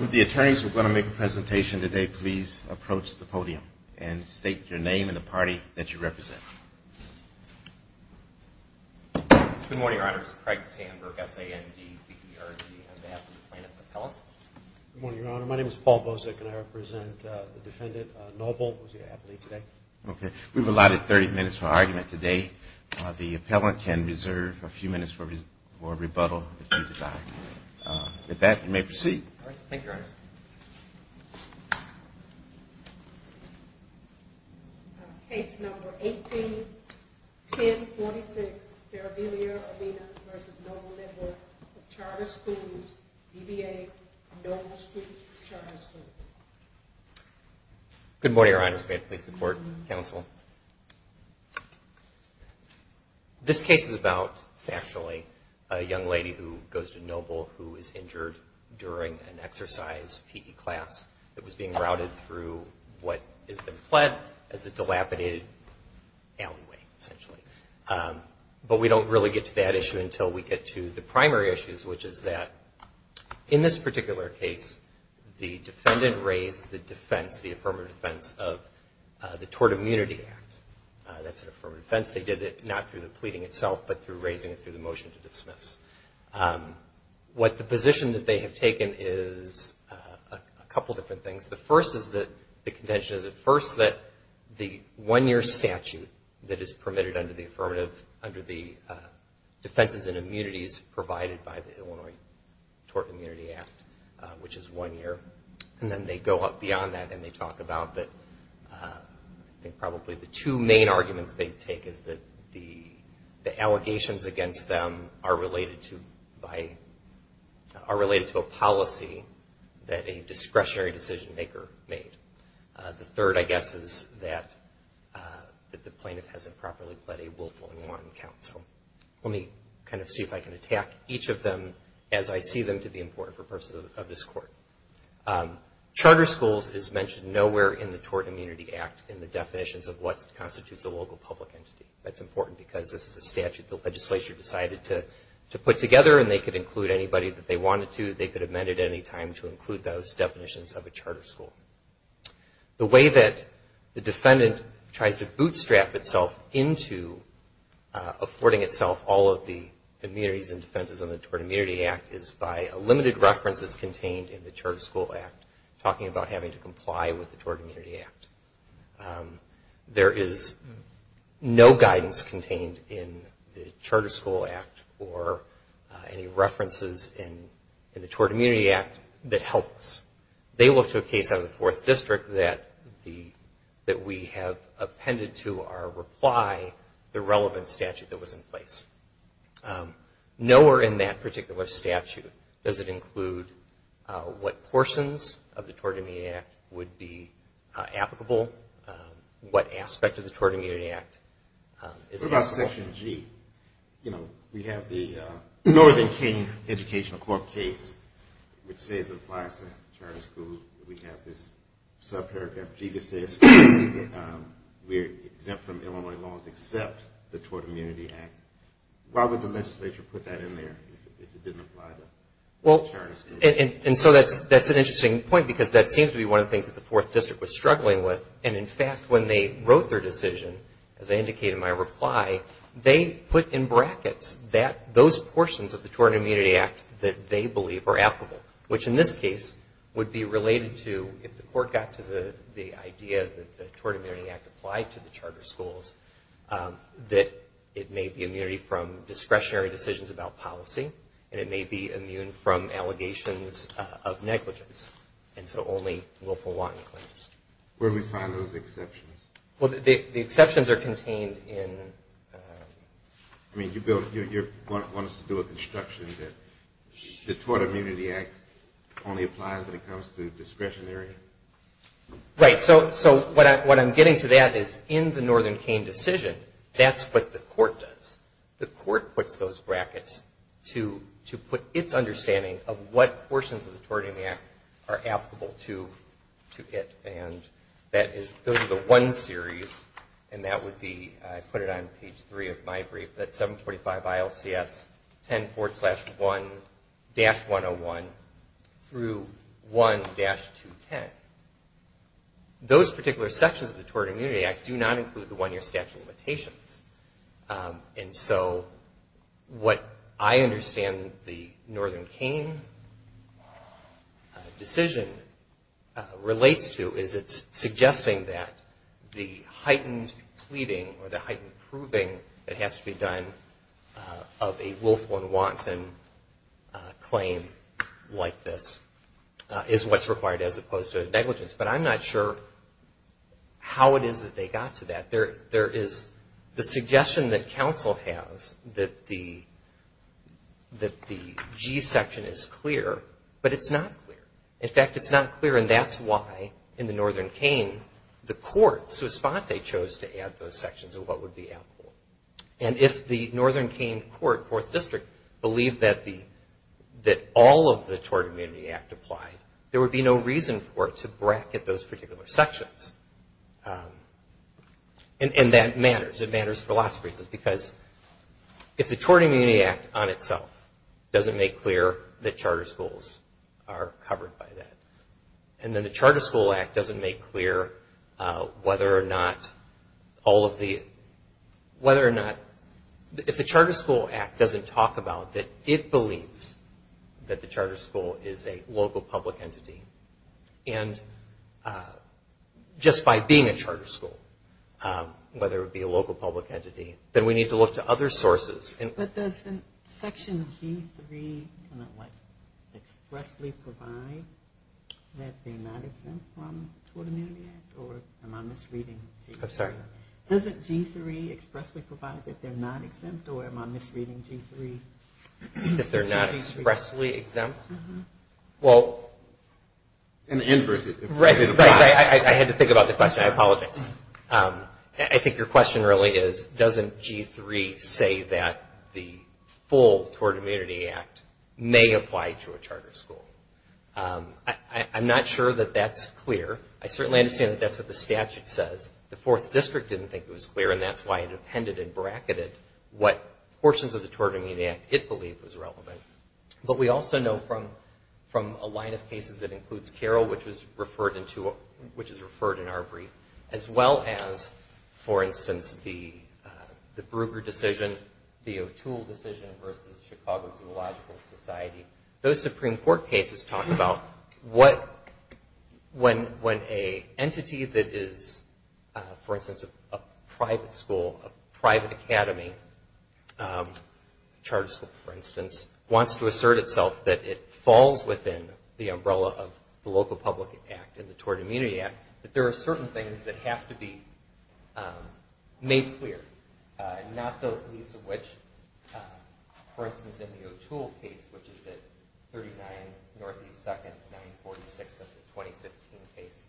Would the attorneys who are going to make a presentation today please approach the podium and state your name and the party that you represent. Good morning, Your Honor. This is Craig Sandberg, S-A-N-D-B-E-R-G, on behalf of the plaintiff's appellate. Good morning, Your Honor. My name is Paul Bozek, and I represent the defendant, Noble, who is here happily today. Okay. We've allotted 30 minutes for argument today. The appellant can reserve a few minutes for rebuttal, if you desire. With that, you may proceed. Thank you, Your Honor. Case number 18-1046, Saravilia Urbina v. Noble Network of Charter Schools, BBA, Noble Schools Charter School. Good morning, Your Honor. May I please have the court counsel? This case is about, actually, a young lady who goes to Noble who is injured during an exercise PE class that was being routed through what has been pled as a dilapidated alleyway, essentially. But we don't really get to that issue until we get to the primary issues, which is that in this That's an affirmative defense. They did it not through the pleading itself, but through raising it through the motion to dismiss. What the position that they have taken is a couple different things. The first is that the contention is, at first, that the one-year statute that is permitted under the affirmative, under the defenses and immunities provided by the Illinois Tort Immunity Act, which is one year. And then they go up beyond that and they talk about that, I think, probably the two main arguments they take is that the allegations against them are related to a policy that a discretionary decision-maker made. The third, I guess, is that the plaintiff hasn't properly pled a willful and Charter schools is mentioned nowhere in the Tort Immunity Act in the definitions of what constitutes a local public entity. That's important because this is a statute the legislature decided to put together and they could include anybody that they wanted to. They could amend it at any time to include those definitions of a charter school. The way that the defendant tries to bootstrap itself into affording itself all of the immunities and defenses in the Tort Immunity Act is by a limited reference that's contained in the Charter School Act talking about having to comply with the Tort Immunity Act. There is no guidance contained in the Charter School Act or any references in the Tort Immunity Act that helps. They looked to a case out of the Fourth District that we have appended to our reply the relevant statute that was in place. Nowhere in that particular statute does it include what portions of the Tort Immunity Act would be applicable, what aspect of the Tort Immunity Act is applicable. What about Section G? We have the Northern King Educational Corp case which says it applies to charter schools. We have this subparagraph G that says we are exempt from Illinois laws except the Tort Immunity Act. Why would the legislature put that in there if it didn't apply to charter schools? That's an interesting point because that seems to be one of the things that the Fourth District was struggling with and in fact when they wrote their reply they put in brackets that those portions of the Tort Immunity Act that they believe are applicable which in this case would be related to if the court got to the idea that the Tort Immunity Act applied to the charter schools that it may be immunity from discretionary decisions about policy and it may be immune from allegations of negligence and so only willful wanting claims. Where do we find those exceptions? Well the exceptions are contained in... I mean you want us to do a construction that the Tort Immunity Act only applies when it comes to discretionary? Right, so what I'm getting to that is in the Northern King decision that's what the court does. The court puts those brackets to put its sections of the Tort Immunity Act are applicable to it and that is those are the one series and that would be I put it on page three of my brief that 745 ILCS 10.4-1-101 through 1-210. Those particular sections of the Tort Immunity Act do not include the one year statute of limitations and so what I understand the Northern King decision relates to is it's suggesting that the heightened pleading or the heightened proving that has to be done of a willful and wanton claim like this is what's required as opposed to negligence. But I'm not sure how it is that they got to that. There is the suggestion that counsel has that the G section is clear but it's not clear. In fact it's not clear and that's why in the Northern King the courts who spot they chose to add those sections of what would be in court fourth district believe that all of the Tort Immunity Act applied. There would be no reason for it to bracket those particular sections and that matters. It matters for lots of reasons because if the Tort Immunity Act on itself doesn't make clear that charter schools are about that it believes that the charter school is a local public entity and just by being a charter school, whether it be a local public entity, then we need to look to other sources. But doesn't section G3 expressly provide that they're not exempt from the Tort Immunity Act or am I misreading G3? I'm sorry. Doesn't G3 expressly provide that they're not exempt or am I misreading G3? That they're not expressly exempt? Uh-huh. Well. In the inverse. I had to think about the question. I apologize. I think your question really is doesn't G3 say that the full Tort Immunity Act may apply to a charter school? I'm not sure that that's clear. I certainly understand that that's what the statute says. The fourth district didn't think it was clear and that's why it appended and bracketed what portions of the Tort Immunity Act it believed was relevant. But we also know from a line of care, which is referred in our brief, as well as, for instance, the Brugger decision, the O'Toole decision versus Chicago Zoological Society, those Supreme Court cases talk about when an entity that is, for instance, a private school, a private academy, charter school for instance, wants to assert itself that it falls within the umbrella of the Local Public Act and the Tort Immunity Act, that there are certain things that have to be made clear. Not the least of which, for instance, in the O'Toole case, which is at 39 Northeast 2nd, 946. That's a 2015 case.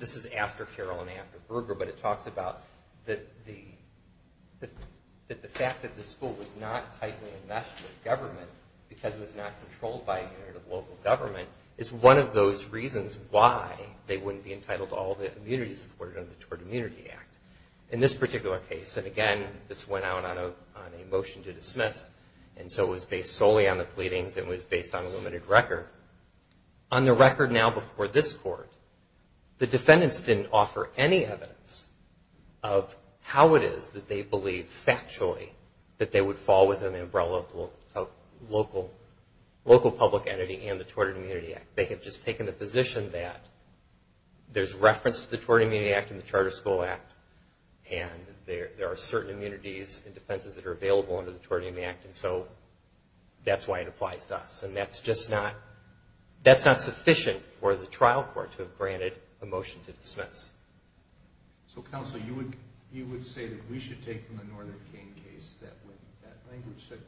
This is after Carroll and after Brugger, but it talks about the fact that the school was not tightly enmeshed with government because it was not controlled by a unit of local government is one of those reasons why they wouldn't be entitled to all the immunity supported under the Tort Immunity Act. In this particular case, and again, this went out on a motion to dismiss, and so it was based solely on the pleadings and it was on the record now before this Court, the defendants didn't offer any evidence of how it is that they believe factually that they would fall within the umbrella of Local Public Entity and the Tort Immunity Act. They have just taken the position that there's reference to the Tort Immunity Act and the Charter School Act, and there are certain immunities and defenses that are available under the Tort Immunity Act, and so that's why it wasn't, that's not sufficient for the trial court to have granted a motion to dismiss. So counsel, you would say that we should take from the Northern Cain case that when that language said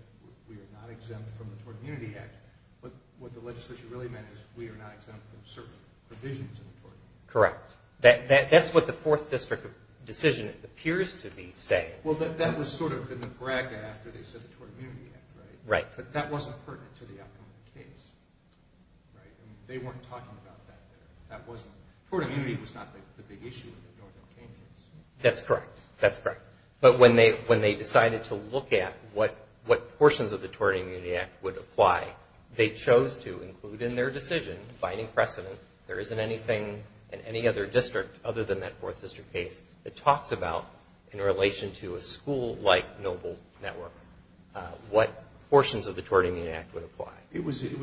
we are not exempt from the Tort Immunity Act, but what the legislation really meant is we are not exempt from certain provisions of the Tort Immunity Act. Correct. That's what the Fourth District decision appears to be saying. Well, that was sort of in the bracket after they said the Tort Immunity Act, right? Right. But that wasn't pertinent to the outcome of the case, right? They weren't talking about that there. Tort Immunity was not the big issue in the Northern Cain case. That's correct. That's correct. But when they decided to look at what portions of the Tort Immunity Act would apply, they chose to include in their decision, finding precedent, there isn't anything in any other district other than that Fourth District case that talks about in relation to a school-like noble network what portions of the Tort Immunity Act would apply. It was, it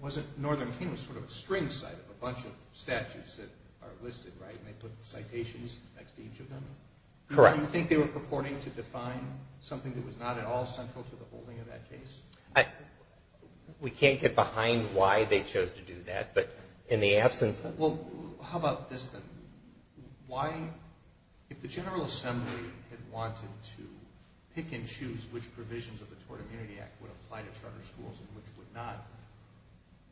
wasn't, Northern Cain was sort of a string site of a bunch of statutes that are listed, right, and they put citations next to each of them? Correct. Do you think they were purporting to define something that was not at all central to the holding of that case? We can't get behind why they chose to do that, but in the absence of... Well, how about this then? Why, if the General Assembly had wanted to pick and choose which provisions of the Tort Immunity Act would apply to charter schools and which would not,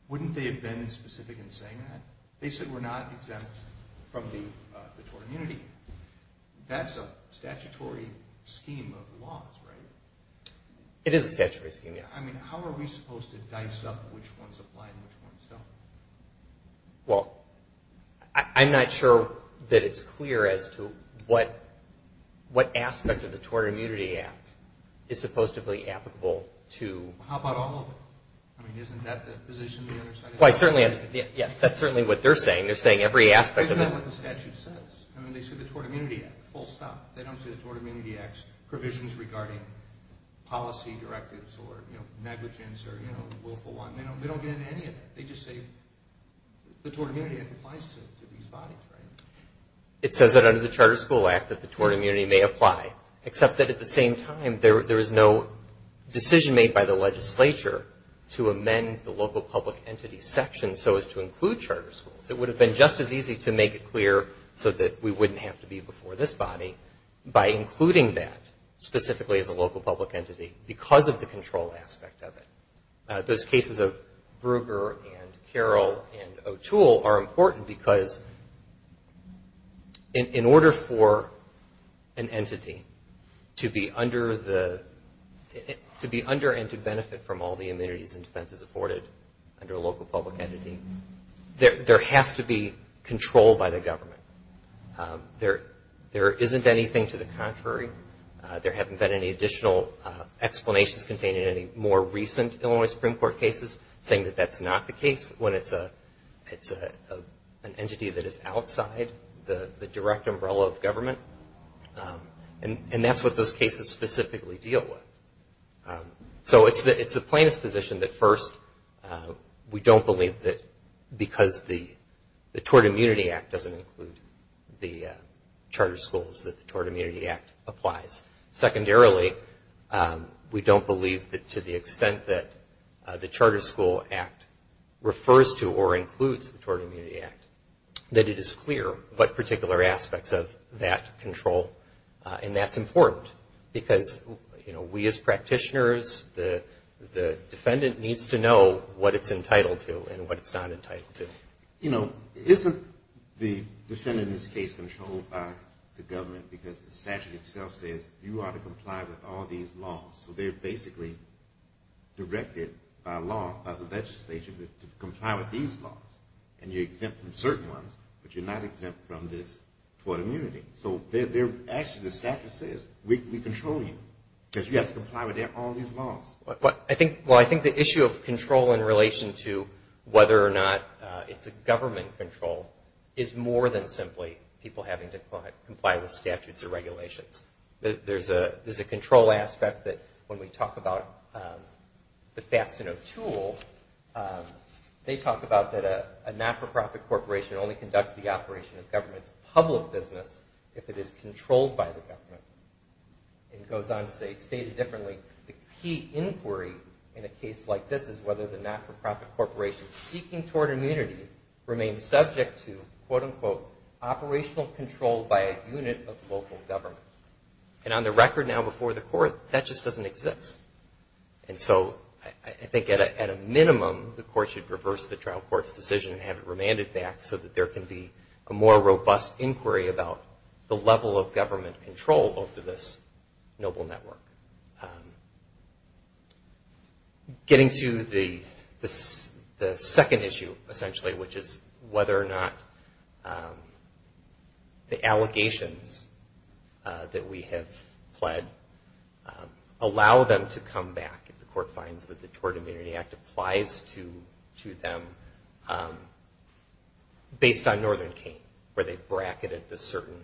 wouldn't they have been specific in saying that? They said we're not exempt from the Tort Immunity. That's a statutory scheme of laws, right? It is a statutory scheme, yes. I mean, how are we supposed to dice up which ones apply and which ones don't? Well, I'm not sure that it's clear as to what aspect of the Tort Immunity Act is supposedly applicable to... How about all of them? I mean, isn't that the position the other side is taking? Well, I certainly, yes, that's certainly what they're saying. They're saying every aspect of it... I mean, they say the Tort Immunity Act, full stop. They don't say the Tort Immunity Act's provisions regarding policy directives or negligence or willful one. They don't get into any of it. They just say the Tort Immunity Act applies to these bodies, right? It says that under the Charter School Act that the Tort Immunity may apply, except that at the same time there is no decision made by the legislature to amend the local public entity section so as to include charter schools. It would have been just as easy to make it clear so that we wouldn't have to be before this body by including that specifically as a local public entity because of the control aspect of it. Those cases of Brugger and Carroll and O'Toole are important because in order for an entity to be under and to benefit from all the government, it has to be controlled by the government. There isn't anything to the contrary. There haven't been any additional explanations contained in any more recent Illinois Supreme Court cases saying that that's not the case when it's an entity that is outside the direct umbrella of government. And that's what those cases specifically deal with. So it's the plaintiff's position that first, we don't believe that because the Tort Immunity Act doesn't include the charter schools that the Tort Immunity Act applies. Secondarily, we don't believe that to the extent that the Charter School Act refers to or includes the Tort Immunity Act control. And that's important because we as practitioners, the defendant needs to know what it's entitled to and what it's not entitled to. You know, isn't the defendant in this case controlled by the government because the statute itself says you ought to comply with all these laws? So they're basically directed by law, by the legislation to comply with these laws. And you're exempt from certain ones, but you're not actually, the statute says we control you because you have to comply with all these laws. Well, I think the issue of control in relation to whether or not it's a government control is more than simply people having to comply with statutes or regulations. There's a control aspect that when we talk about the facts in a tool, they talk about that a not-for-profit corporation only conducts the operation of government's public business if it is controlled by the government. And it goes on to say, stated differently, the key inquiry in a case like this is whether the not-for-profit corporation seeking Tort Immunity remains subject to quote-unquote operational control by a unit of local government. And on the record now before the court, that just doesn't exist. And so I think at a minimum, the court should reverse the trial court's decision and have it remanded back so that there can be a more robust inquiry about the level of government control over this noble network. Getting to the second issue, essentially, which is whether or not the Tort Immunity Act applies to them based on Northern Kean, where they bracketed the certain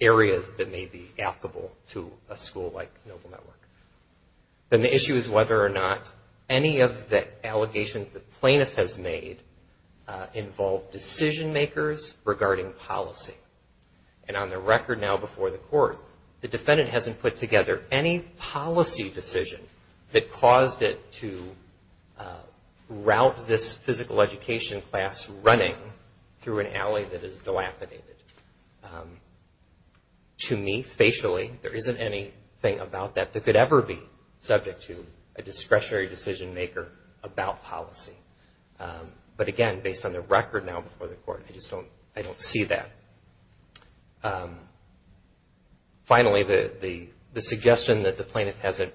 areas that may be applicable to a school like Noble Network. And the issue is whether or not any of the allegations the plaintiff has made involve decision makers regarding policy. And on the route this physical education class running through an alley that is dilapidated. To me, facially, there isn't anything about that that could ever be subject to a discretionary decision maker about policy. But again, based on the record now before the court, I just don't see that. Finally, the suggestion that the plaintiff hasn't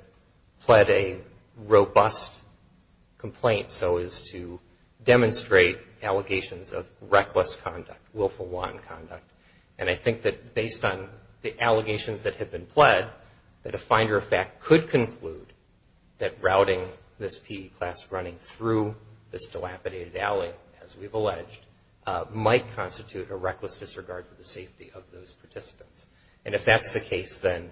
pled a robust complaint so as to demonstrate allegations of reckless conduct, willful wanton conduct. And I think that based on the allegations that have been pled, that a finder of fact could conclude that routing this PE class running through this dilapidated alley, as we've alleged, might constitute a reckless disregard for the safety of those participants. And if that's the case, then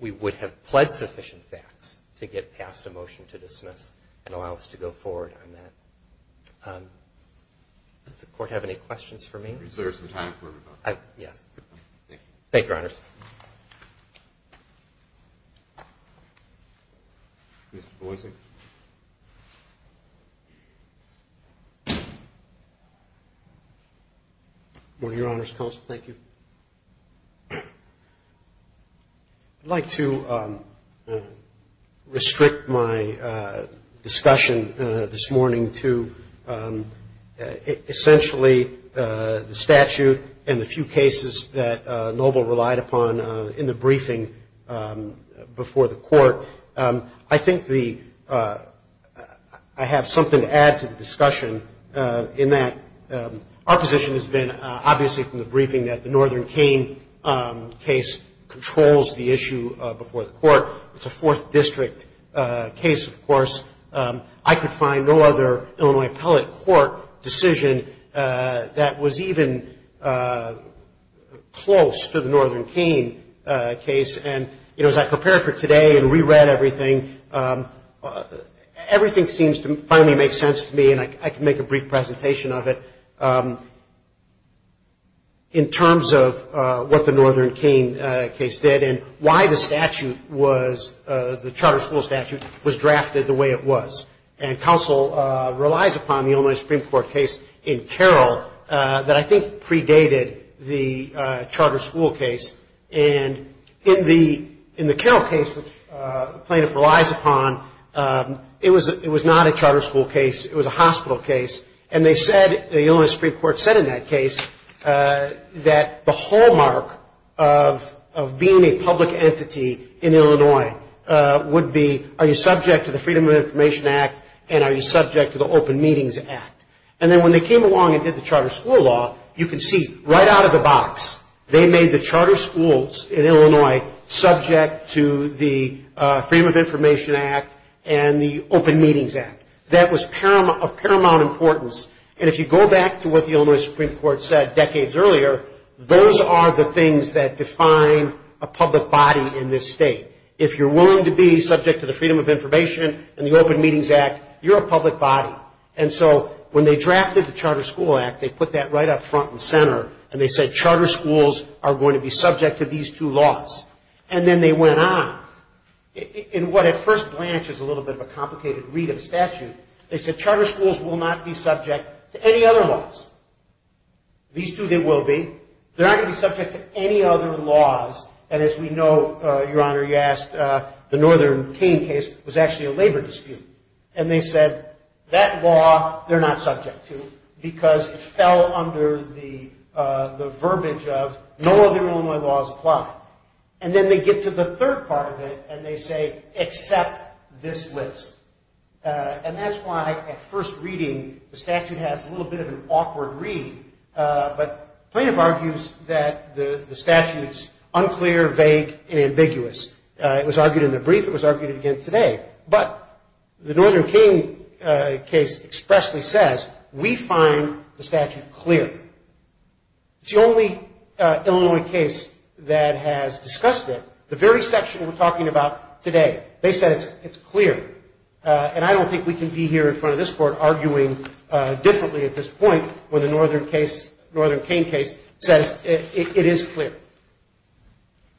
we would have pled sufficient facts to get past a motion to dismiss and allow us to go forward on that. Does the court have any questions for me? Yes. Thank you. Thank you, Your Honors. Mr. Boies. I'd like to restrict my discussion this morning to essentially the statute and the few cases that Noble relied upon in the briefing before the court. I think the, I have something to add to the discussion in that our position has been, obviously, from the briefing, that the Northern Kane case controls the issue before the court. It's a Fourth District case, of course. I could find no other Illinois appellate court decision that was even close to the Northern Kane case. And, you know, as I prepared for today and reread everything, everything seems to finally make sense to me, and I can make a brief presentation of it, in terms of what the Northern Kane case did and why the statute was, the charter school statute, was drafted the way it was. And counsel relies upon the Illinois Supreme Court case in Carroll that I think predated the charter school case. And in the Carroll case, which plaintiff relies upon, it was not a charter school case. It was a hospital case. And they said, the Illinois Supreme Court said in that case, that the hallmark of being a public entity in Illinois would be, are you subject to the Freedom of Information Act, and are you subject to the Open Meetings Act? And then when they came along and did the charter school law, you can see right out of the box, they made the charter schools in Illinois subject to the Freedom of Information Act and the Open Meetings Act. That was of paramount importance. And if you go back to what the you're a public body. And so when they drafted the Charter School Act, they put that right up front and center, and they said, charter schools are going to be subject to these two laws. And then they went on. In what at first blanches a little bit of a complicated read of the statute, they said, charter schools will not be subject to any other laws. These two they will be. They're not going to be subject to any other laws. And as we know, Your Honor, you asked, the Northern Kane case was actually a labor dispute. And they said, that law they're not subject to, because it fell under the verbiage of, no other Illinois laws apply. And then they get to the third part of it, and they say, except this list. And that's why at first reading, the the statute's unclear, vague, and ambiguous. It was argued in the brief. It was argued again today. But the Northern Kane case expressly says, we find the statute clear. It's the only is clear.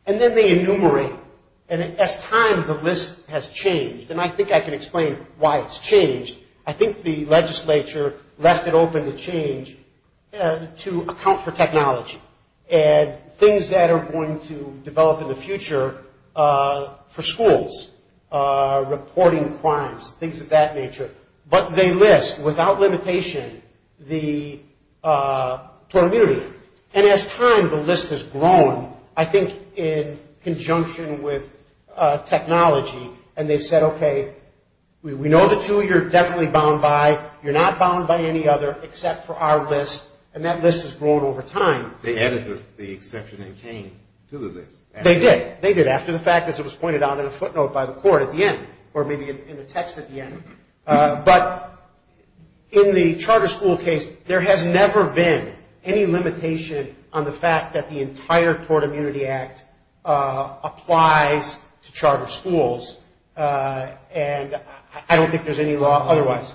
And then they enumerate. And as time, the list has changed. And I think I can explain why it's changed. I think the legislature left it open to change, to account for technology and things that are going to develop in the future for schools, reporting crimes, things of that nature. But they list, without limitation, the tort immunity. And as time, the list has grown, I think in conjunction with technology. And they've said, okay, we know the two you're definitely bound by. You're not bound by any other except for our list. And that list has grown over time. They added the exception in Kane to the list. limitation on the fact that the entire Tort Immunity Act applies to charter schools. And I don't think there's any law otherwise.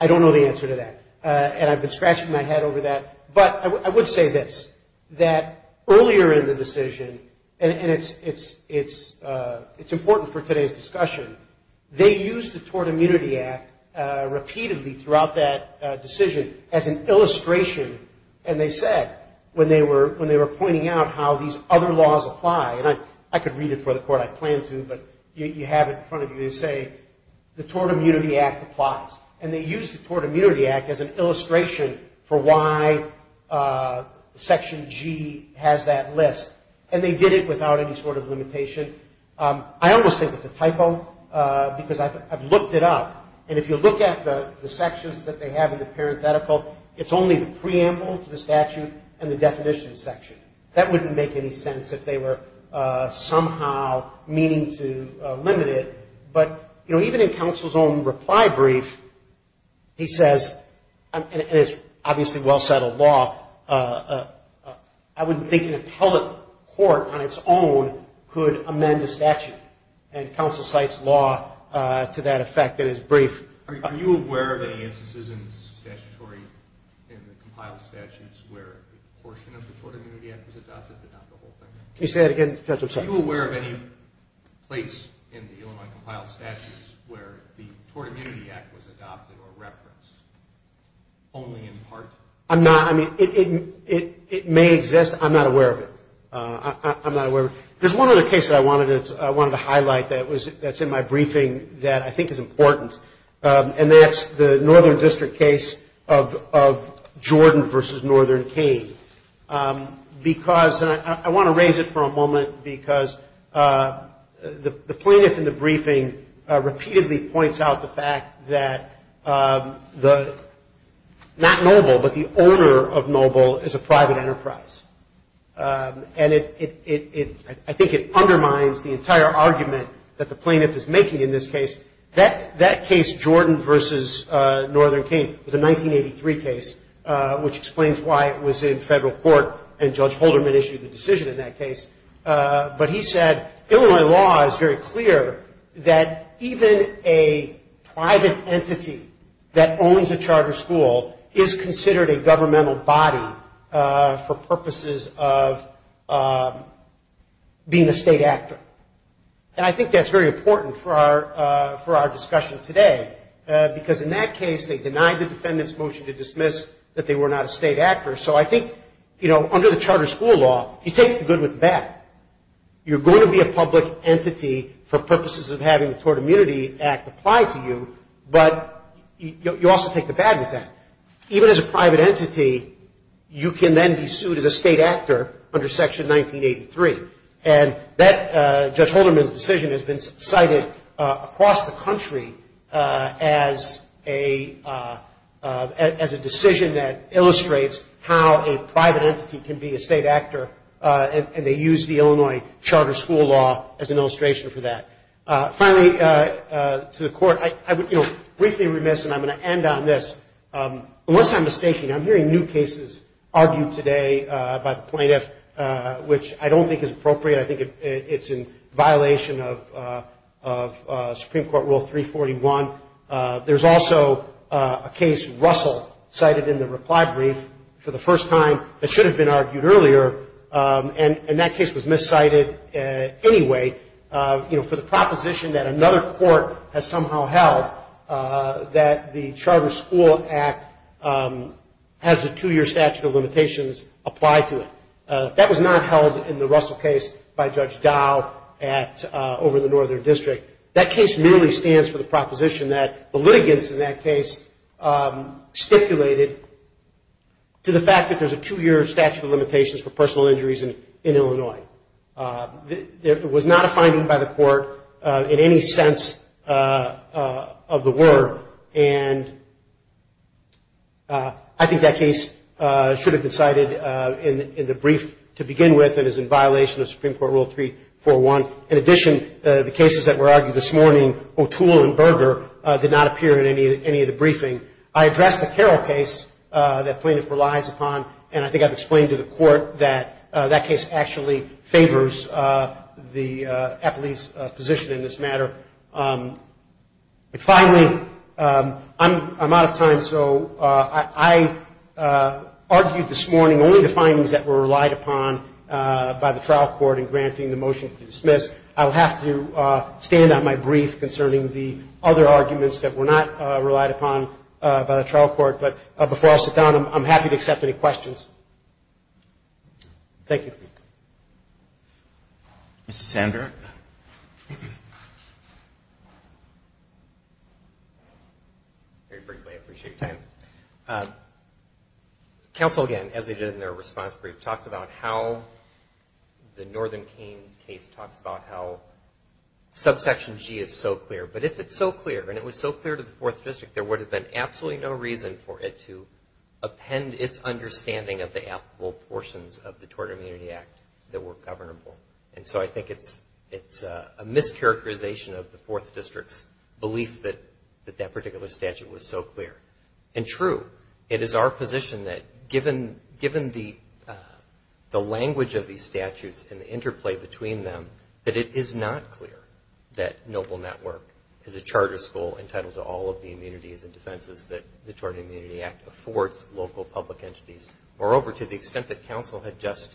I don't know the answer to that. And I've been scratching my head over that. But I would say this, that earlier in the decision, and it's important for today's discussion, they used the Tort Immunity Act repeatedly throughout that decision as an illustration. And they said, when they were pointing out how these other laws apply. And I could read it for the court. I plan to. But you have it in front of you. They say, the Tort Immunity Act applies. And they used the Tort Immunity Act as an illustration for why Section G has that list. And they did it without any sort of limitation. I almost think it's a typo because I've looked it up. And if you look at the sections that they have in the parenthetical, it's only the preamble to the statute and the definition section. That wouldn't make any sense if they were somehow meaning to limit it. But even in counsel's own reply brief, he says, and it's obviously well-settled law, I wouldn't think an appellate court on its own could amend a statute. And counsel cites law to that effect in his brief. Are you aware of any instances in the statutory, in the compiled statutes, where a portion of the Tort Immunity Act was adopted but not the whole thing? Can you say that again, Judge? I'm sorry. Are you aware of any place in the Illinois compiled statutes where the Tort Immunity Act was adopted or referenced only in part? I'm not. I mean, it may exist. I'm not aware of it. I'm not aware of it. There's one other case that I wanted to highlight that's in my briefing that I think is important. And that's the Northern District case of Jordan v. Northern Kane. Because, and I want to raise it for a moment, because the plaintiff in the briefing repeatedly points out the fact that the, not Noble, but the owner of Noble is a private enterprise. And it, I think it undermines the entire argument that the plaintiff is making in this case. That case, Jordan v. Northern Kane, was a 1983 case, which explains why it was in federal court, and Judge Holderman issued the decision in that case. But he said, Illinois law is very clear that even a private entity that owns a charter school is considered a governmental body for purposes of being a state actor. And I think that's very important for our discussion today. Because in that case, they denied the defendant's motion to dismiss that they were not a state actor. So I think, you know, under the charter school law, you take the good with the bad. You're going to be a public entity for purposes of having the Tort Immunity Act apply to you, but you also take the bad with that. Even as a private entity, you can then be sued as a state actor under Section 1983. And that, Judge Holderman's decision has been cited across the country as a decision that illustrates how a private entity can be a state actor, and they use the Illinois charter school law as an illustration for that. Finally, to the Court, I would, you know, briefly remiss, and I'm going to end on this. Unless I'm mistaken, I'm hearing new cases argued today by the plaintiff, which I don't think is appropriate. I think it's in violation of Supreme Court Rule 341. There's also a case, Russell, cited in the reply brief for the first time that should have been argued earlier, and that case was miscited anyway, you know, for the proposition that another court has somehow held that the Charter School Act has a two-year statute of limitations applied to it. That was not held in the Russell case by Judge Dow over in the Northern District. That case merely stands for the proposition that the litigants in that case stipulated to the fact that there's a two-year statute of limitations for personal injuries in Illinois. It was not a finding by the Court in any sense of the word, and I think that case should have been cited in the brief to begin with and is in violation of Supreme Court Rule 341. In addition, the cases that were argued this morning, O'Toole and Berger, did not appear in any of the briefing. I addressed the Carroll case that plaintiff relies upon, and I think I've explained to the Court that that case actually favors the appellee's position in this matter. Finally, I'm out of time, so I argued this morning only the findings that were relied upon by the trial court in granting the motion to dismiss. I'll have to stand on my brief concerning the other arguments that were not relied upon by the trial court, but before I sit down, I'm happy to accept any questions. Thank you. Thank you. Mr. Sander. Very briefly, I appreciate your time. Counsel, again, as they did in their response brief, talks about how the Northern Keene case talks about how subsection G is so clear, but if it's so clear, and it was so clear to the Fourth District, there would have been absolutely no reason for it to append its understanding of the applicable portions of the Tort Immunity Act that were governable. And so I think it's a mischaracterization of the Fourth District's belief that that particular statute was so clear. And true, it is our position that given the language of these statutes and the interplay between them, that it is not clear that Noble Network is a charter school entitled to all of the immunities and defenses that the Tort Immunity Act affords local public entities. Moreover, to the extent that counsel had just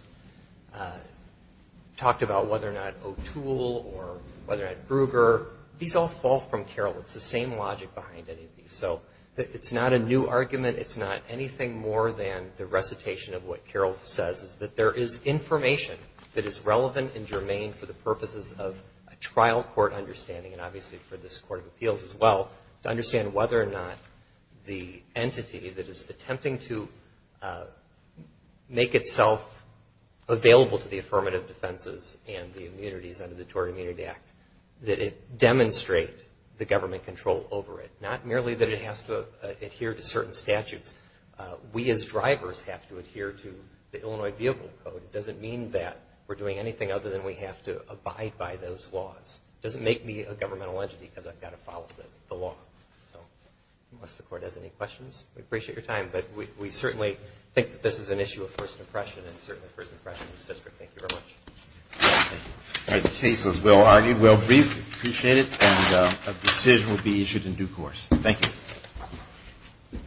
talked about whether or not O'Toole or whether or not Brugger, these all fall from Carroll. It's the same logic behind any of these. So it's not a new argument. It's not anything more than the recitation of what Carroll says, is that there is information that is relevant and germane for the purposes of a trial court understanding, and obviously for this Court of Appeals as well, to understand whether or not the entity that is attempting to make itself available to the affirmative defenses and the immunities under the Tort Immunity Act, that it demonstrate the government control over it. Not merely that it has to adhere to certain statutes. We as drivers have to adhere to the Illinois Vehicle Code. It doesn't mean that we're doing anything other than we have to abide by those laws. It doesn't make me a governmental entity because I've got to follow the law. So unless the Court has any questions, we appreciate your time. But we certainly think that this is an issue of first impression, and certainly first impression of this district. Thank you very much. The case was well-argued, well-briefed. We appreciate it. And a decision will be issued in due course. Thank you.